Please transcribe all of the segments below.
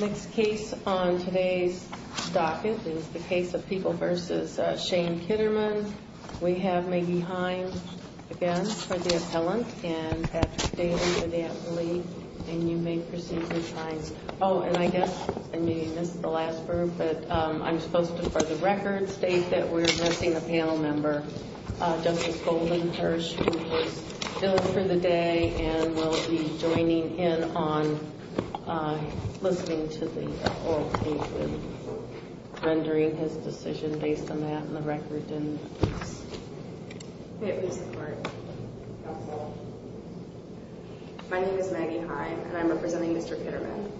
Next case on today's docket is the case of People v. Shane Kitterman. We have Maggie Hines, again, for the appellant, and Patrick Daly for the athlete, and you may proceed, Ms. Hines. Oh, and I guess I may have missed the last verb, but I'm supposed to, for the record, state that we're addressing a panel member, Justice Golden Kirsch, who was billed for the day and will be joining in on listening to the oral case and rendering his decision based on that and the record in the case. May it please the Court. Counsel. My name is Maggie Hines, and I'm representing Mr. Kitterman.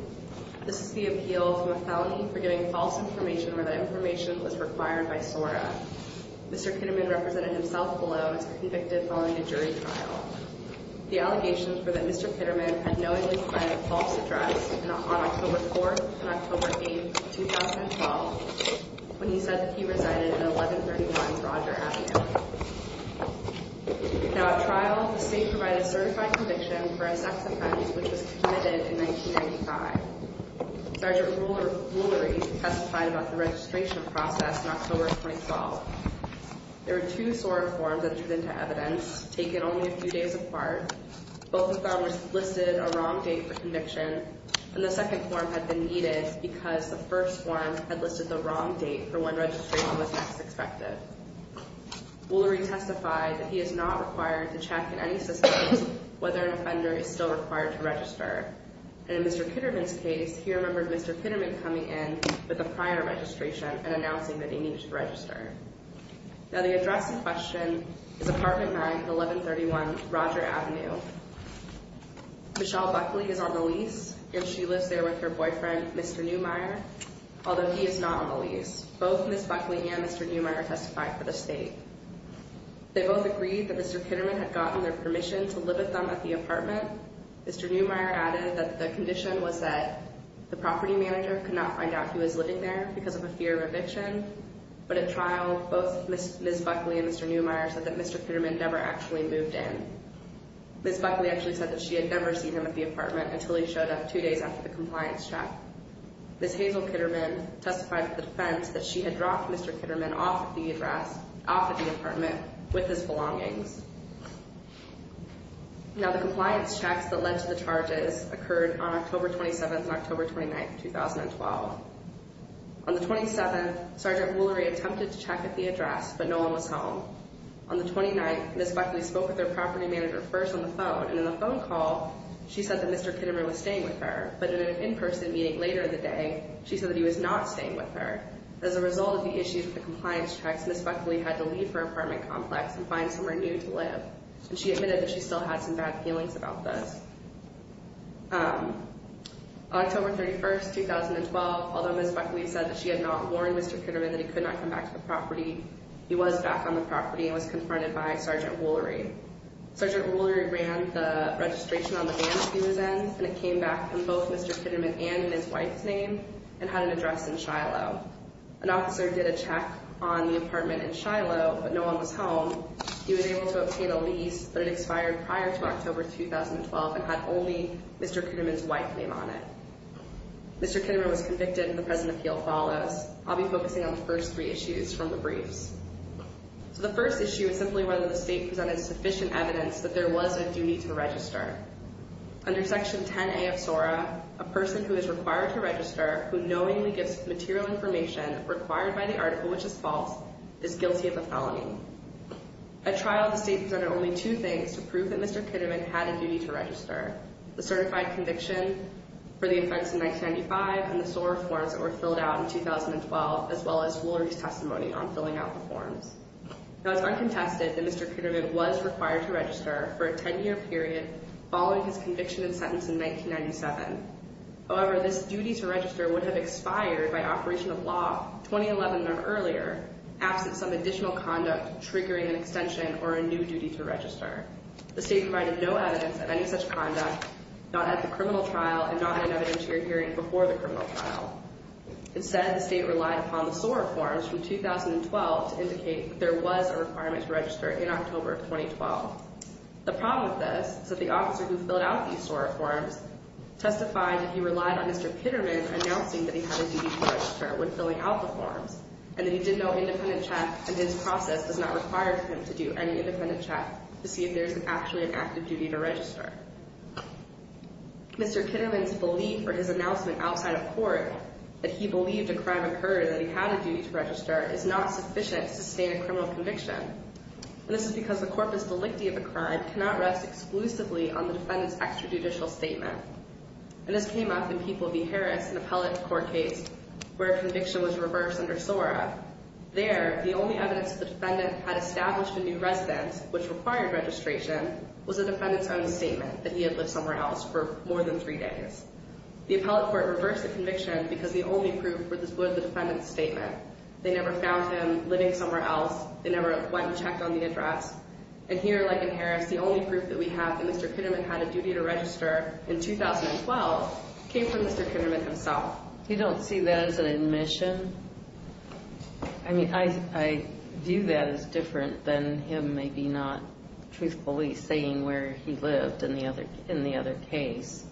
This is the appeal from a felony for getting false information where that information was required by SORA. Mr. Kitterman represented himself below and was convicted following a jury trial. The allegations were that Mr. Kitterman had knowingly provided a false address on October 4th and October 8th, 2012, when he said that he resided in 1131 Roger Avenue. Now, at trial, the state provided a certified conviction for a sex offense which was committed in 1995. Sergeant Rulery testified about the registration process in October 2012. There were two SORA forms entered into evidence, taken only a few days apart. Both of them listed a wrong date for conviction, and the second form had been needed because the first form had listed the wrong date for when registration was next expected. Rulery testified that he is not required to check in any systems whether an offender is still required to register. And in Mr. Kitterman's case, he remembered Mr. Kitterman coming in with a prior registration and announcing that he needed to register. Now, the address in question is Apartment 9, 1131 Roger Avenue. Michelle Buckley is on the lease, and she lives there with her boyfriend, Mr. Neumeier, although he is not on the lease. Both Ms. Buckley and Mr. Neumeier testified for the state. They both agreed that Mr. Kitterman had gotten their permission to live with them at the apartment. Mr. Neumeier added that the condition was that the property manager could not find out he was living there because of a fear of eviction. But at trial, both Ms. Buckley and Mr. Neumeier said that Mr. Kitterman never actually moved in. Ms. Buckley actually said that she had never seen him at the apartment until he showed up two days after the compliance check. Ms. Hazel Kitterman testified for the defense that she had dropped Mr. Kitterman off at the address, off at the apartment with his belongings. Now, the compliance checks that led to the charges occurred on October 27th and October 29th, 2012. On the 27th, Sergeant Woolery attempted to check at the address, but no one was home. On the 29th, Ms. Buckley spoke with her property manager first on the phone, and in the phone call, she said that Mr. Kitterman was staying with her. But in an in-person meeting later in the day, she said that he was not staying with her. As a result of the issues with the compliance checks, Ms. Buckley had to leave her apartment complex and find somewhere new to live. And she admitted that she still had some bad feelings about this. On October 31st, 2012, although Ms. Buckley said that she had not warned Mr. Kitterman that he could not come back to the property, he was back on the property and was confronted by Sergeant Woolery. Sergeant Woolery ran the registration on the van that he was in, and it came back in both Mr. Kitterman and in his wife's name, and had an address in Shiloh. An officer did a check on the apartment in Shiloh, but no one was home. He was able to obtain a lease, but it expired prior to October 2012 and had only Mr. Kitterman's wife's name on it. Mr. Kitterman was convicted, and the present appeal follows. I'll be focusing on the first three issues from the briefs. So the first issue is simply whether the state presented sufficient evidence that there was a duty to register. Under Section 10A of SORA, a person who is required to register, who knowingly gives material information required by the article which is false, is guilty of a felony. At trial, the state presented only two things to prove that Mr. Kitterman had a duty to register, the certified conviction for the offense in 1995 and the SORA forms that were filled out in 2012, as well as Woolery's testimony on filling out the forms. Now, it's uncontested that Mr. Kitterman was required to register for a 10-year period following his conviction and sentence in 1997. However, this duty to register would have expired by operation of law 2011 and earlier, absent some additional conduct triggering an extension or a new duty to register. The state provided no evidence of any such conduct, not at the criminal trial and not in an evidentiary hearing before the criminal trial. Instead, the state relied upon the SORA forms from 2012 to indicate that there was a requirement to register in October of 2012. The problem with this is that the officer who filled out these SORA forms testified that he relied on Mr. Kitterman announcing that he had a duty to register when filling out the forms and that he did no independent check and his process does not require him to do any independent check to see if there's actually an active duty to register. Mr. Kitterman's belief or his announcement outside of court that he believed a crime occurred and that he had a duty to register is not sufficient to sustain a criminal conviction. And this is because the corpus delicti of a crime cannot rest exclusively on the defendant's extrajudicial statement. And this came up in People v. Harris, an appellate court case, where a conviction was reversed under SORA. There, the only evidence the defendant had established a new residence, which required registration, was the defendant's own statement that he had lived somewhere else for more than three days. The appellate court reversed the conviction because the only proof was the defendant's statement. They never found him living somewhere else. They never went and checked on the address. And here, like in Harris, the only proof that we have that Mr. Kitterman had a duty to register in 2012 came from Mr. Kitterman himself. You don't see that as an admission? I mean, I view that as different than him maybe not truthfully saying where he lived in the other case.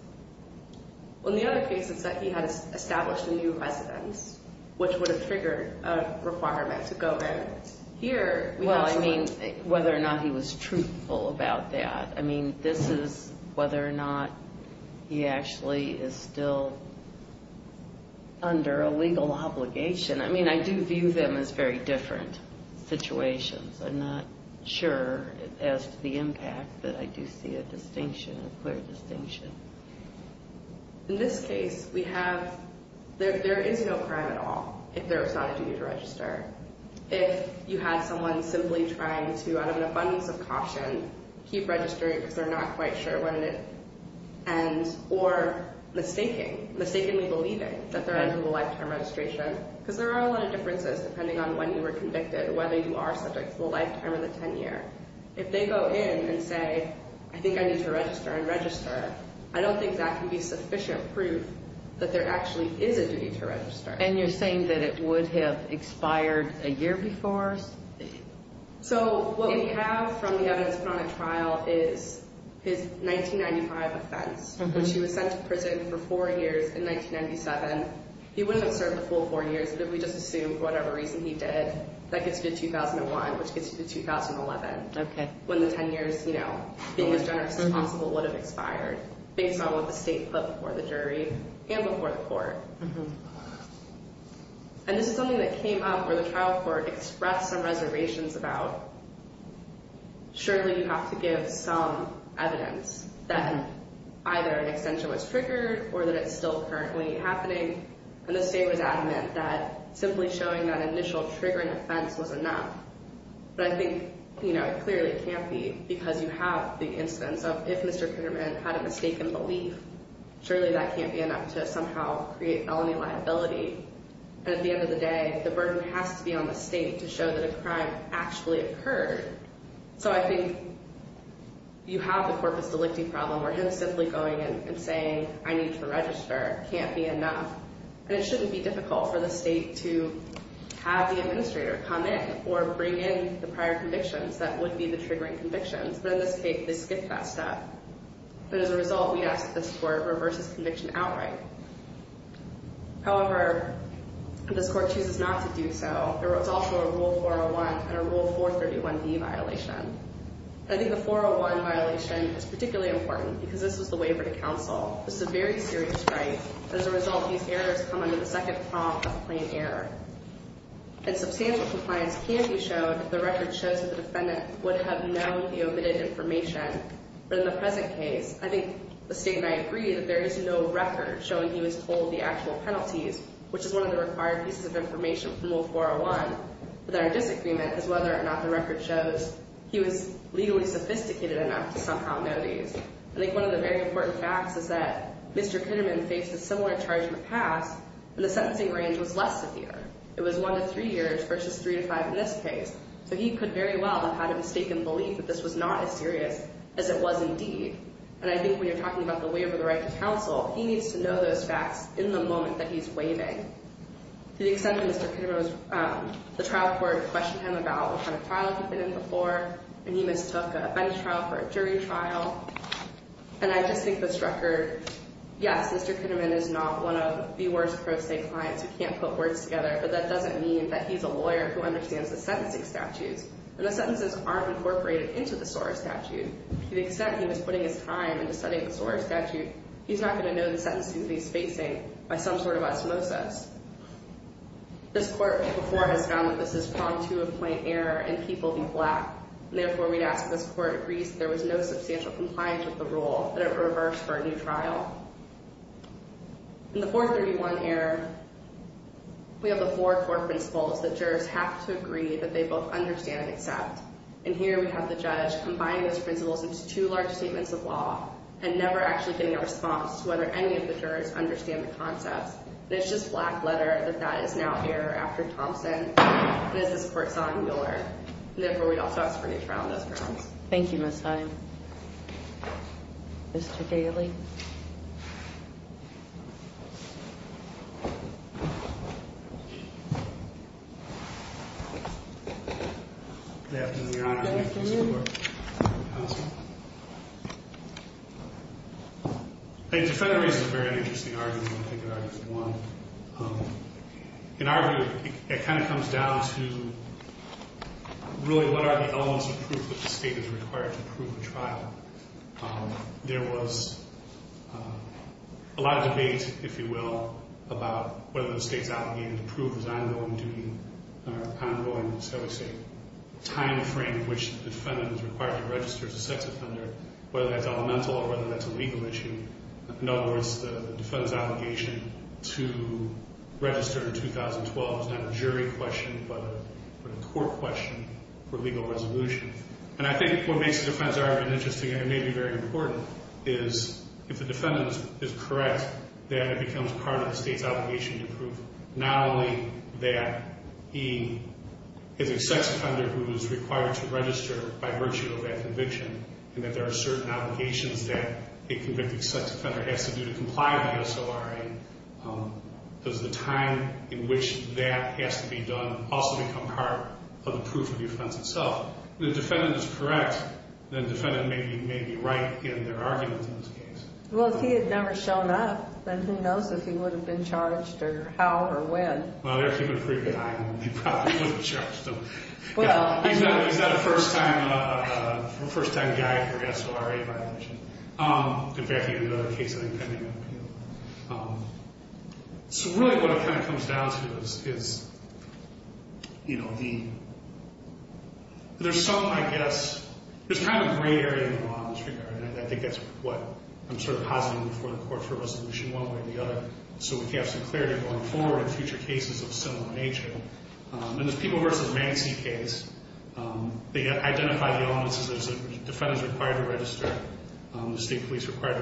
Well, in the other case, it said he had established a new residence, which would have triggered a requirement to go there. Well, I mean, whether or not he was truthful about that. I mean, this is whether or not he actually is still under a legal obligation. I mean, I do view them as very different situations. I'm not sure as to the impact, but I do see a distinction, a clear distinction. In this case, we have, there is no crime at all if there was not a duty to register. If you had someone simply trying to, out of an abundance of caution, keep registering because they're not quite sure when it ends, or mistaking, mistakenly believing that they're entering the lifetime registration, because there are a lot of differences depending on when you were convicted, whether you are subject to the lifetime or the 10 year. If they go in and say, I think I need to register and register, I don't think that can be sufficient proof that there actually is a duty to register. And you're saying that it would have expired a year before? So what we have from the evidence put on a trial is his 1995 offense, which he was sent to prison for four years in 1997. He wouldn't have served the full four years, but if we just assume for whatever reason he did, that gets you to 2001, which gets you to 2011. When the 10 years, you know, being as generous as possible would have expired, based on what the state put before the jury and before the court. And this is something that came up where the trial court expressed some reservations about, surely you have to give some evidence that either an extension was triggered or that it's still currently happening. And the state was adamant that simply showing that initial triggering offense was enough. But I think, you know, it clearly can't be, because you have the instance of if Mr. Pinkerman had a mistaken belief, surely that can't be enough to somehow create felony liability. And at the end of the day, the burden has to be on the state to show that a crime actually occurred. So I think you have the corpus delicti problem where him simply going and saying, I need to register, can't be enough. And it shouldn't be difficult for the state to have the administrator come in or bring in the prior convictions that would be the triggering convictions. But in this case, they skipped that step. But as a result, yes, this court reverses conviction outright. However, this court chooses not to do so. There was also a Rule 401 and a Rule 431B violation. I think the 401 violation is particularly important because this was the waiver to counsel. This is a very serious right. As a result, these errors come under the second prompt of a plain error. And substantial compliance can be shown if the record shows that the defendant would have known the omitted information. But in the present case, I think the state and I agree that there is no record showing he was told the actual penalties, which is one of the required pieces of information from Rule 401. But our disagreement is whether or not the record shows he was legally sophisticated enough to somehow know these. I think one of the very important facts is that Mr. Kitterman faced a similar charge in the past, and the sentencing range was less severe. It was one to three years versus three to five in this case. So he could very well have had a mistaken belief that this was not as serious as it was indeed. And I think when you're talking about the waiver of the right to counsel, he needs to know those facts in the moment that he's waiving. To the extent that Mr. Kitterman was – the trial court questioned him about what kind of trial he'd been in before, and he mistook a bench trial for a jury trial. And I just think this record – yes, Mr. Kitterman is not one of the worst pro se clients who can't put words together, but that doesn't mean that he's a lawyer who understands the sentencing statutes. And the sentences aren't incorporated into the SOAR statute. To the extent he was putting his time into studying the SOAR statute, he's not going to know the sentences he's facing by some sort of osmosis. This court before has found that this is prone to a plain error, and people be black. And therefore, we'd ask that this court agrees that there was no substantial compliance with the rule, that it reversed for a new trial. In the 431 error, we have the four court principles that jurors have to agree that they both understand and accept. And here we have the judge combining those principles into two large statements of law and never actually getting a response to whether any of the jurors understand the concepts. And it's just black letter that that is now error after Thompson. It is this court's own error. And therefore, we'd also ask for a new trial on those grounds. Thank you, Ms. Heim. Mr. Gailey. Good afternoon, Your Honor. Good afternoon. Counsel. I think the federal reason is a very interesting argument. I think it argues one. In our view, it kind of comes down to really what are the elements of proof that the state is required to prove the trial. There was a lot of debate, if you will, about whether the state's allegation to prove his ongoing duty, ongoing, shall we say, time frame in which the defendant is required to register as a sex offender, whether that's elemental or whether that's a legal issue. In other words, the defendant's obligation to register in 2012 is not a jury question but a court question for legal resolution. And I think what makes the defense argument interesting and maybe very important is if the defendant is correct, then it becomes part of the state's obligation to prove not only that he is a sex offender who is required to register by virtue of that conviction and that there are certain obligations that a convicted sex offender has to do to comply with the SORA. Does the time in which that has to be done also become part of the proof of the offense itself? If the defendant is correct, then the defendant may be right in their argument in this case. Well, if he had never shown up, then who knows if he would have been charged or how or when. Well, they're keeping a pretty good eye on him. He probably would have been charged. He's not a first-time guy for SORA violation. In fact, he had another case I think pending an appeal. So really what it kind of comes down to is there's some, I guess, there's kind of gray area in the law in this regard, and I think that's what I'm sort of positing before the court for resolution one way or the other, so we can have some clarity going forward in future cases of a similar nature. In the Peeble v. Mancy case, they identified the elements that the defendant is required to register, the state police required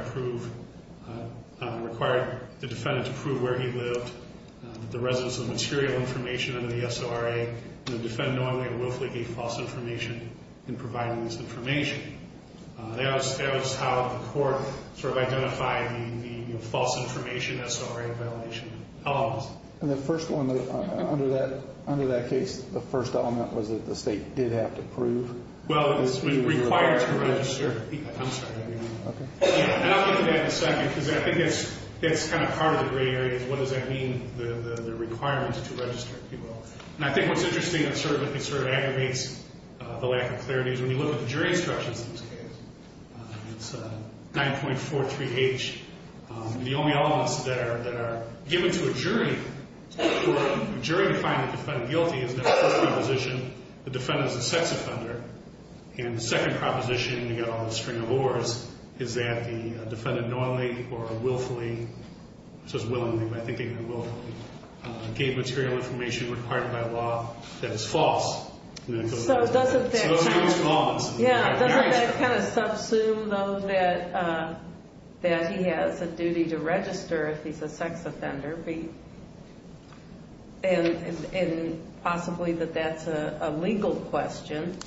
the defendant to prove where he lived, the residence of material information under the SORA, and the defendant knowingly or willfully gave false information in providing this information. That was how the court sort of identified the false information SORA violation elements. And the first one under that case, the first element was that the state did have to prove? Well, it was required to register. I'm sorry. Okay. And I'll get to that in a second because I think that's kind of part of the gray area is what does that mean, the requirement to register? And I think what's interesting and sort of aggravates the lack of clarity is when you look at the jury instructions in this case, it's 9.43H, the only elements that are given to a jury for a jury to find the defendant guilty is the first proposition, the defendant is a sex offender, and the second proposition, you've got all this string of ors, is that the defendant knowingly or willfully, it says willingly, but I think even willfully, gave material information required by law that is false. So doesn't that kind of subsume, though, that he has a duty to register if he's a sex offender and possibly that that's a legal question?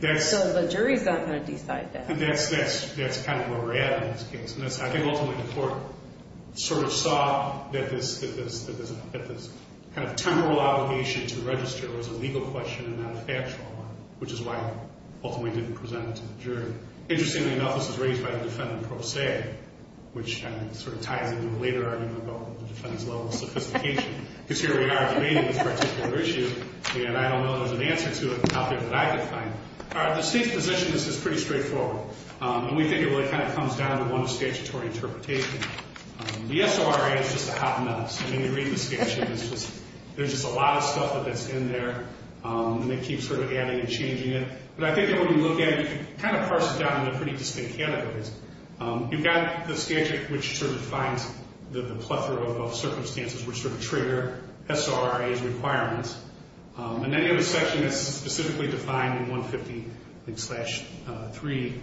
So the jury's not going to decide that. That's kind of where we're at in this case. I think ultimately the court sort of saw that this kind of temporal obligation to register was a legal question and not a factual one, which is why it ultimately didn't present it to the jury. Interestingly enough, this is raised by the defendant pro se, which sort of ties into a later argument about the defendant's level of sophistication, because here we are debating this particular issue, and I don't know there's an answer to it out there that I could find. All right, the state's position is pretty straightforward. And we think it really kind of comes down to one statutory interpretation. The SRA is just a hot mess. I mean, you read the statute, and there's just a lot of stuff that's in there, and they keep sort of adding and changing it. But I think that when you look at it, you can kind of parse it down into pretty distinct categories. You've got the statute, which sort of defines the plethora of circumstances which sort of trigger SRA's requirements. And then you have a section that's specifically defined in 150.3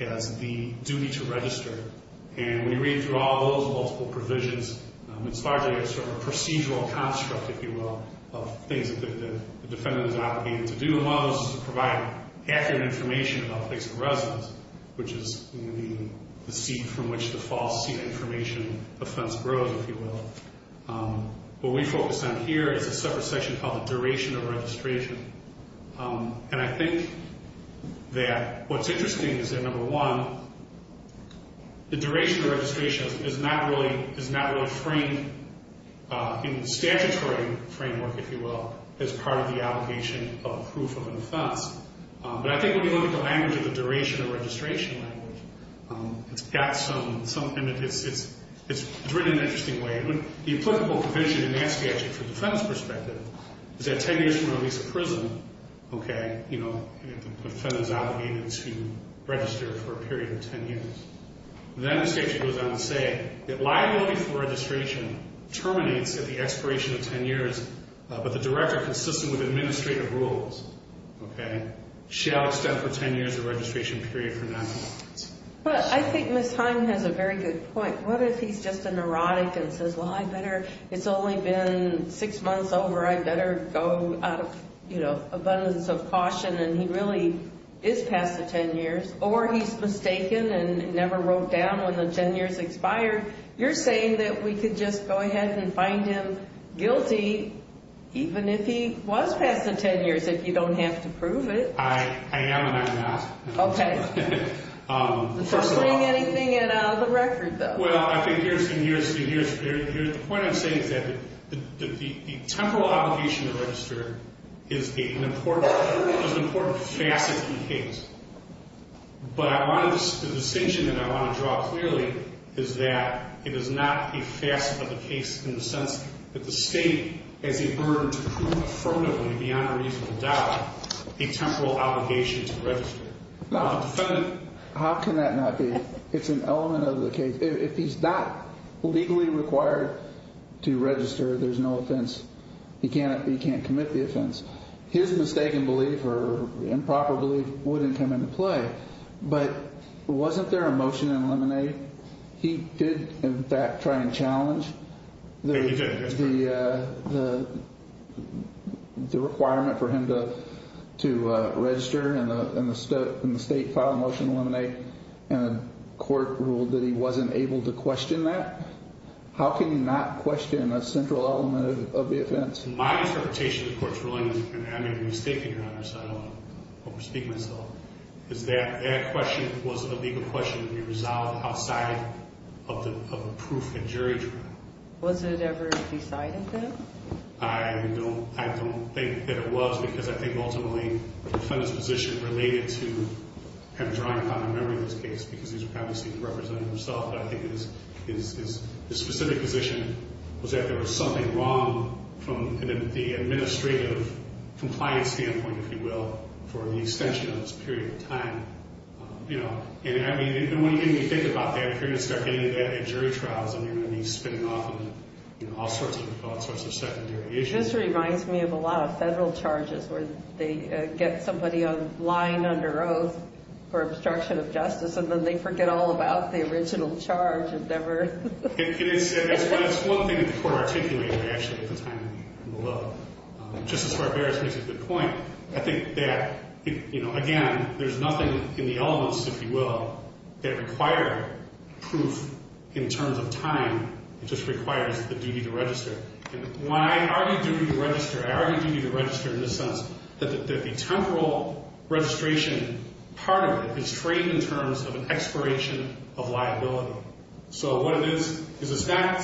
as the duty to register. And when you read through all those multiple provisions, it's largely a sort of procedural construct, if you will, of things that the defendant is obligated to do. And one of those is to provide accurate information about the place of residence, which is the seat from which the false seat of information offense grows, if you will. What we focus on here is a separate section called the duration of registration. And I think that what's interesting is that, number one, the duration of registration is not really framed in statutory framework, if you will, as part of the obligation of proof of an offense. But I think when you look at the language of the duration of registration language, it's written in an interesting way. The applicable provision in that statute, from the defendant's perspective, is that 10 years from release of prison, the defendant is obligated to register for a period of 10 years. Then the statute goes on to say that liability for registration terminates at the expiration of 10 years, but the director, consistent with administrative rules, shall extend for 10 years the registration period for noncompliance. But I think Ms. Heim has a very good point. What if he's just a neurotic and says, well, it's only been six months over. I better go out of abundance of caution, and he really is past the 10 years. Or he's mistaken and never wrote down when the 10 years expired. You're saying that we could just go ahead and find him guilty, even if he was past the 10 years, if you don't have to prove it. I am and I'm not. OK. First of all. You're not putting anything in or out of the record, though. Well, I've been here a few years. The point I'm saying is that the temporal obligation to register is an important facet of the case. But the distinction that I want to draw clearly is that it is not a facet of the case in the sense that the state has a burden to prove affirmatively, beyond a reasonable doubt, the temporal obligation to register. How can that not be? It's an element of the case. If he's not legally required to register, there's no offense. He can't commit the offense. His mistaken belief or improper belief wouldn't come into play. But wasn't there a motion to eliminate? He did, in fact, try and challenge the requirement for him to register in the state file motion to eliminate. And the court ruled that he wasn't able to question that. How can you not question a central element of the offense? My interpretation of the court's ruling, and I made a mistake, Your Honor, so I don't want to overspeak myself, is that that question wasn't a legal question to be resolved outside of the proof and jury trial. Was it ever decided, then? I don't think that it was because I think ultimately the defendant's position related to him drawing upon the memory of this case because he's probably seen it represented himself, but I think his specific position was that there was something wrong from the administrative compliance standpoint, if you will, for the extension of this period of time. And when you think about that period of time, getting into that and jury trials, I mean, he's been off on all sorts of secondary issues. This reminds me of a lot of federal charges where they get somebody lying under oath for obstruction of justice and then they forget all about the original charge and never... It's one thing that the court articulated, actually, at the time of the law. Justice Barberis makes a good point. I think that, again, there's nothing in the elements, if you will, that require proof in terms of time. It just requires the duty to register. When I argue duty to register, I argue duty to register in the sense that the temporal registration part of it is framed in terms of an expiration of liability. So what it is is it's not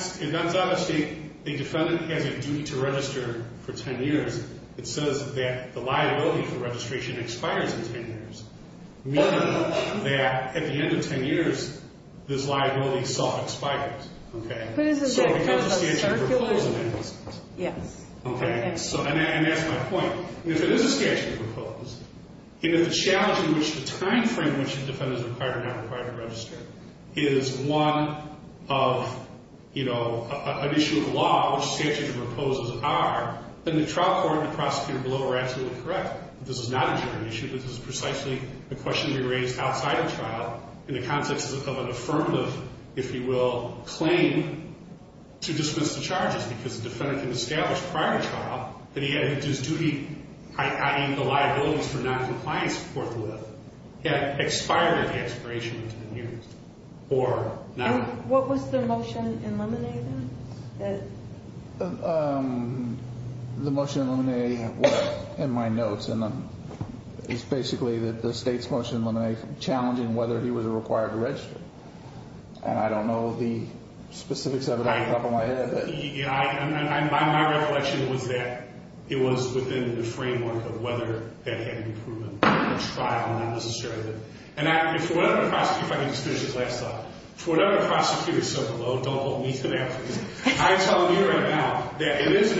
a state... The defendant has a duty to register for 10 years. It says that the liability for registration expires in 10 years, meaning that at the end of 10 years, this liability itself expires. Okay? So it has a statute of proposed amendments. Yes. Okay? And that's my point. If it is a statute of proposed, the challenge in which the time frame in which the defendant is required or not required to register is one of, you know, an issue of the law, which statute of proposed are, then the trial court and the prosecutor below are absolutely correct. This is not a general issue. This is precisely a question to be raised outside of trial in the context of an affirmative, if you will, claim to dispense the charges because the defendant can establish prior to trial that he had his duty, i.e., the liabilities for noncompliance before the lift, had expired at the expiration of 10 years. Or not. What was the motion in Lemonade then? The motion in Lemonade was in my notes. And it's basically the state's motion in Lemonade challenging whether he was required to register. And I don't know the specifics of it off the top of my head. My recollection was that it was within the framework of whether that had been proven in the trial, not necessarily. And for whatever prosecutor, if I can just finish this last thought. For whatever prosecutor, so don't hold me to that, please. I'm telling you right now that it is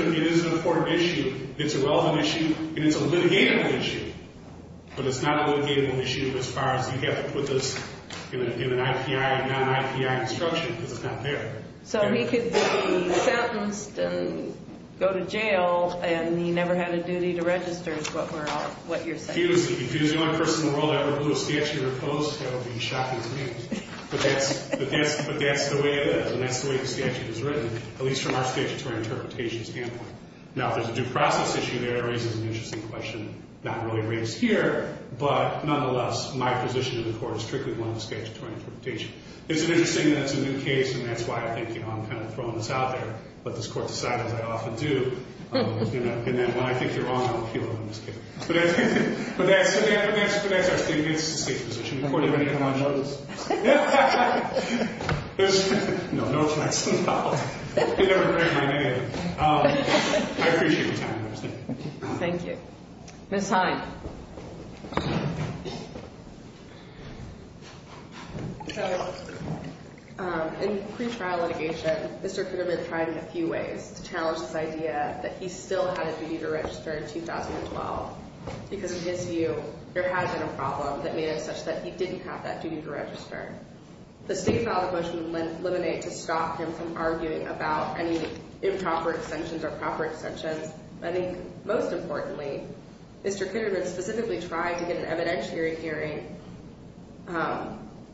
an important issue. It's a relevant issue. And it's a litigating issue. But it's not a litigating issue as far as you have to put this in an IPI, non-IPI instruction because it's not there. So he could be sentenced and go to jail and he never had a duty to register is what you're saying. If he was the only person in the world that ever blew a statute or post, that would be shocking to me. But that's the way it is. And that's the way the statute is written, at least from our statutory interpretation standpoint. Now, if there's a due process issue there, it raises an interesting question not really raised here. But nonetheless, my position in the court is strictly one of the statutory interpretation. Is it interesting that it's a new case and that's why I think I'm kind of throwing this out there. Let this court decide, as I often do. And then when I think you're wrong, I'll appeal it on this case. But that's our statement. It's a safe position. Court, are you ready to come on? No offense. No offense at all. You never heard my name. I appreciate your time. Thank you. Thank you. Ms. Hine. So in pre-trial litigation, Mr. Kitterman tried in a few ways to challenge this idea that he still had a duty to register in 2012. Because in his view, there had been a problem that made it such that he didn't have that duty to register. The state filed a motion in Lemonade to stop him from arguing about any improper extensions or proper extensions. I think most importantly, Mr. Kitterman specifically tried to get an evidentiary hearing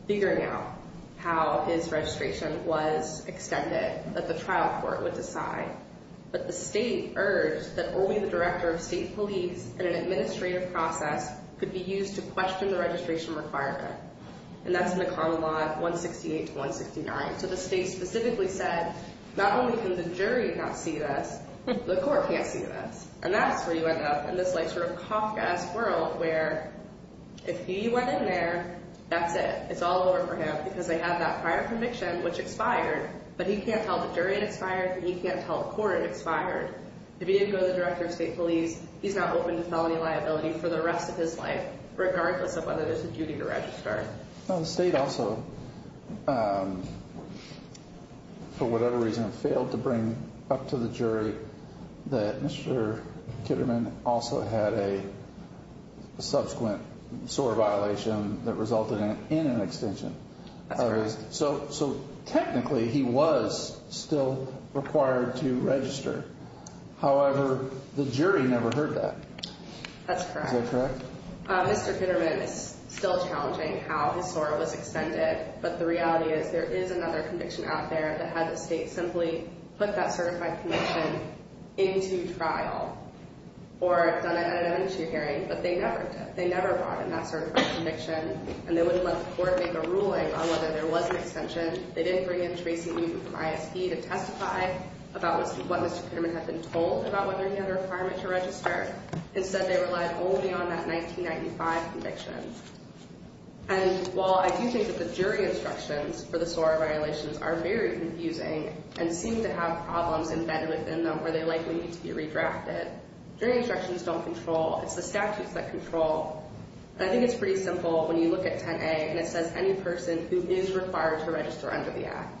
figuring out how his registration was extended that the trial court would decide. But the state urged that only the director of state police and an administrative process could be used to question the registration requirement. And that's in the common law 168 to 169. So the state specifically said, not only can the jury not see this, the court can't see this. And that's where you end up in this sort of Kafkaesque world where if he went in there, that's it. It's all over for him because they have that prior conviction, which expired. But he can't tell the jury it expired. He can't tell the court it expired. If he didn't go to the director of state police, he's not open to felony liability for the rest of his life, regardless of whether there's a duty to register. The state also, for whatever reason, failed to bring up to the jury that Mr. Kitterman also had a subsequent SOAR violation that resulted in an extension. That's correct. So technically, he was still required to register. However, the jury never heard that. That's correct. Is that correct? Mr. Kitterman is still challenging how his SOAR was extended. But the reality is there is another conviction out there that had the state simply put that certified conviction into trial. Or done it at an issue hearing. But they never did. They never brought in that certified conviction. And they wouldn't let the court make a ruling on whether there was an extension. They didn't bring in Tracy Euben from ISD to testify about what Mr. Kitterman had been told about whether he had a requirement to register. Instead, they relied only on that 1995 conviction. And while I do think that the jury instructions for the SOAR violations are very confusing and seem to have problems embedded within them where they likely need to be redrafted, jury instructions don't control. It's the statutes that control. And I think it's pretty simple when you look at 10A and it says any person who is required to register under the act.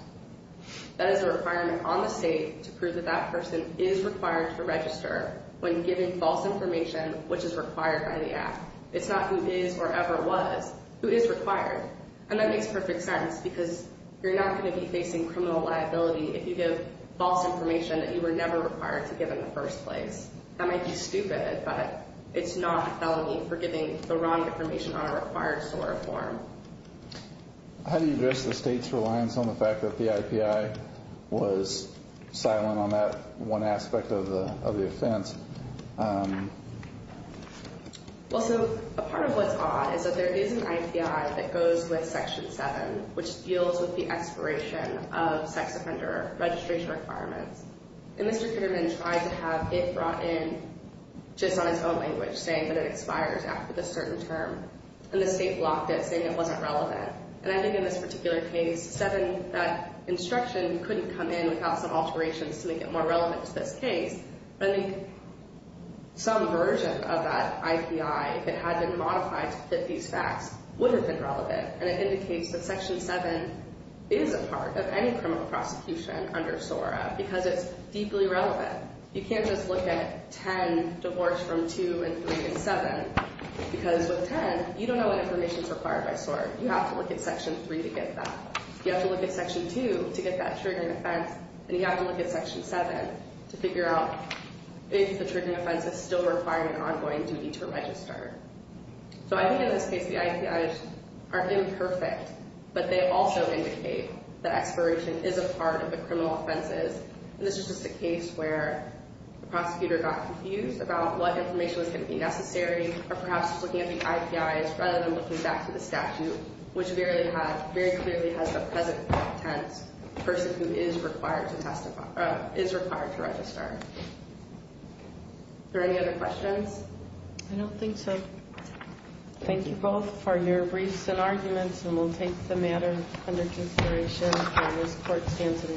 That is a requirement on the state to prove that that person is required to register when giving false information which is required by the act. It's not who is or ever was. Who is required. And that makes perfect sense because you're not going to be facing criminal liability if you give false information that you were never required to give in the first place. That might be stupid, but it's not a felony for giving the wrong information on a required SOAR form. How do you address the state's reliance on the fact that the IPI was silent on that one aspect of the offense? Well, so a part of what's odd is that there is an IPI that goes with Section 7 which deals with the expiration of sex offender registration requirements. And Mr. Kitterman tried to have it brought in just on his own language saying that it expires after the certain term. And the state blocked it saying it wasn't relevant. And I think in this particular case, 7, that instruction couldn't come in without some alterations to make it more relevant to this case. But I think some version of that IPI, if it had been modified to fit these facts, would have been relevant. And it indicates that Section 7 is a part of any criminal prosecution under SOARA because it's deeply relevant. But you can't just look at 10 divorced from 2 and 3 and 7 because with 10, you don't know what information is required by SOARA. You have to look at Section 3 to get that. You have to look at Section 2 to get that triggering offense. And you have to look at Section 7 to figure out if the triggering offense is still requiring an ongoing duty to register. So I think in this case, the IPIs are imperfect, but they also indicate that expiration is a part of the criminal offenses. And this is just a case where the prosecutor got confused about what information was going to be necessary or perhaps was looking at the IPIs rather than looking back to the statute, which very clearly has the present content of the person who is required to register. Are there any other questions? I don't think so. Thank you both for your briefs and arguments. And we'll take the matter under consideration as court stands in recess. All rise.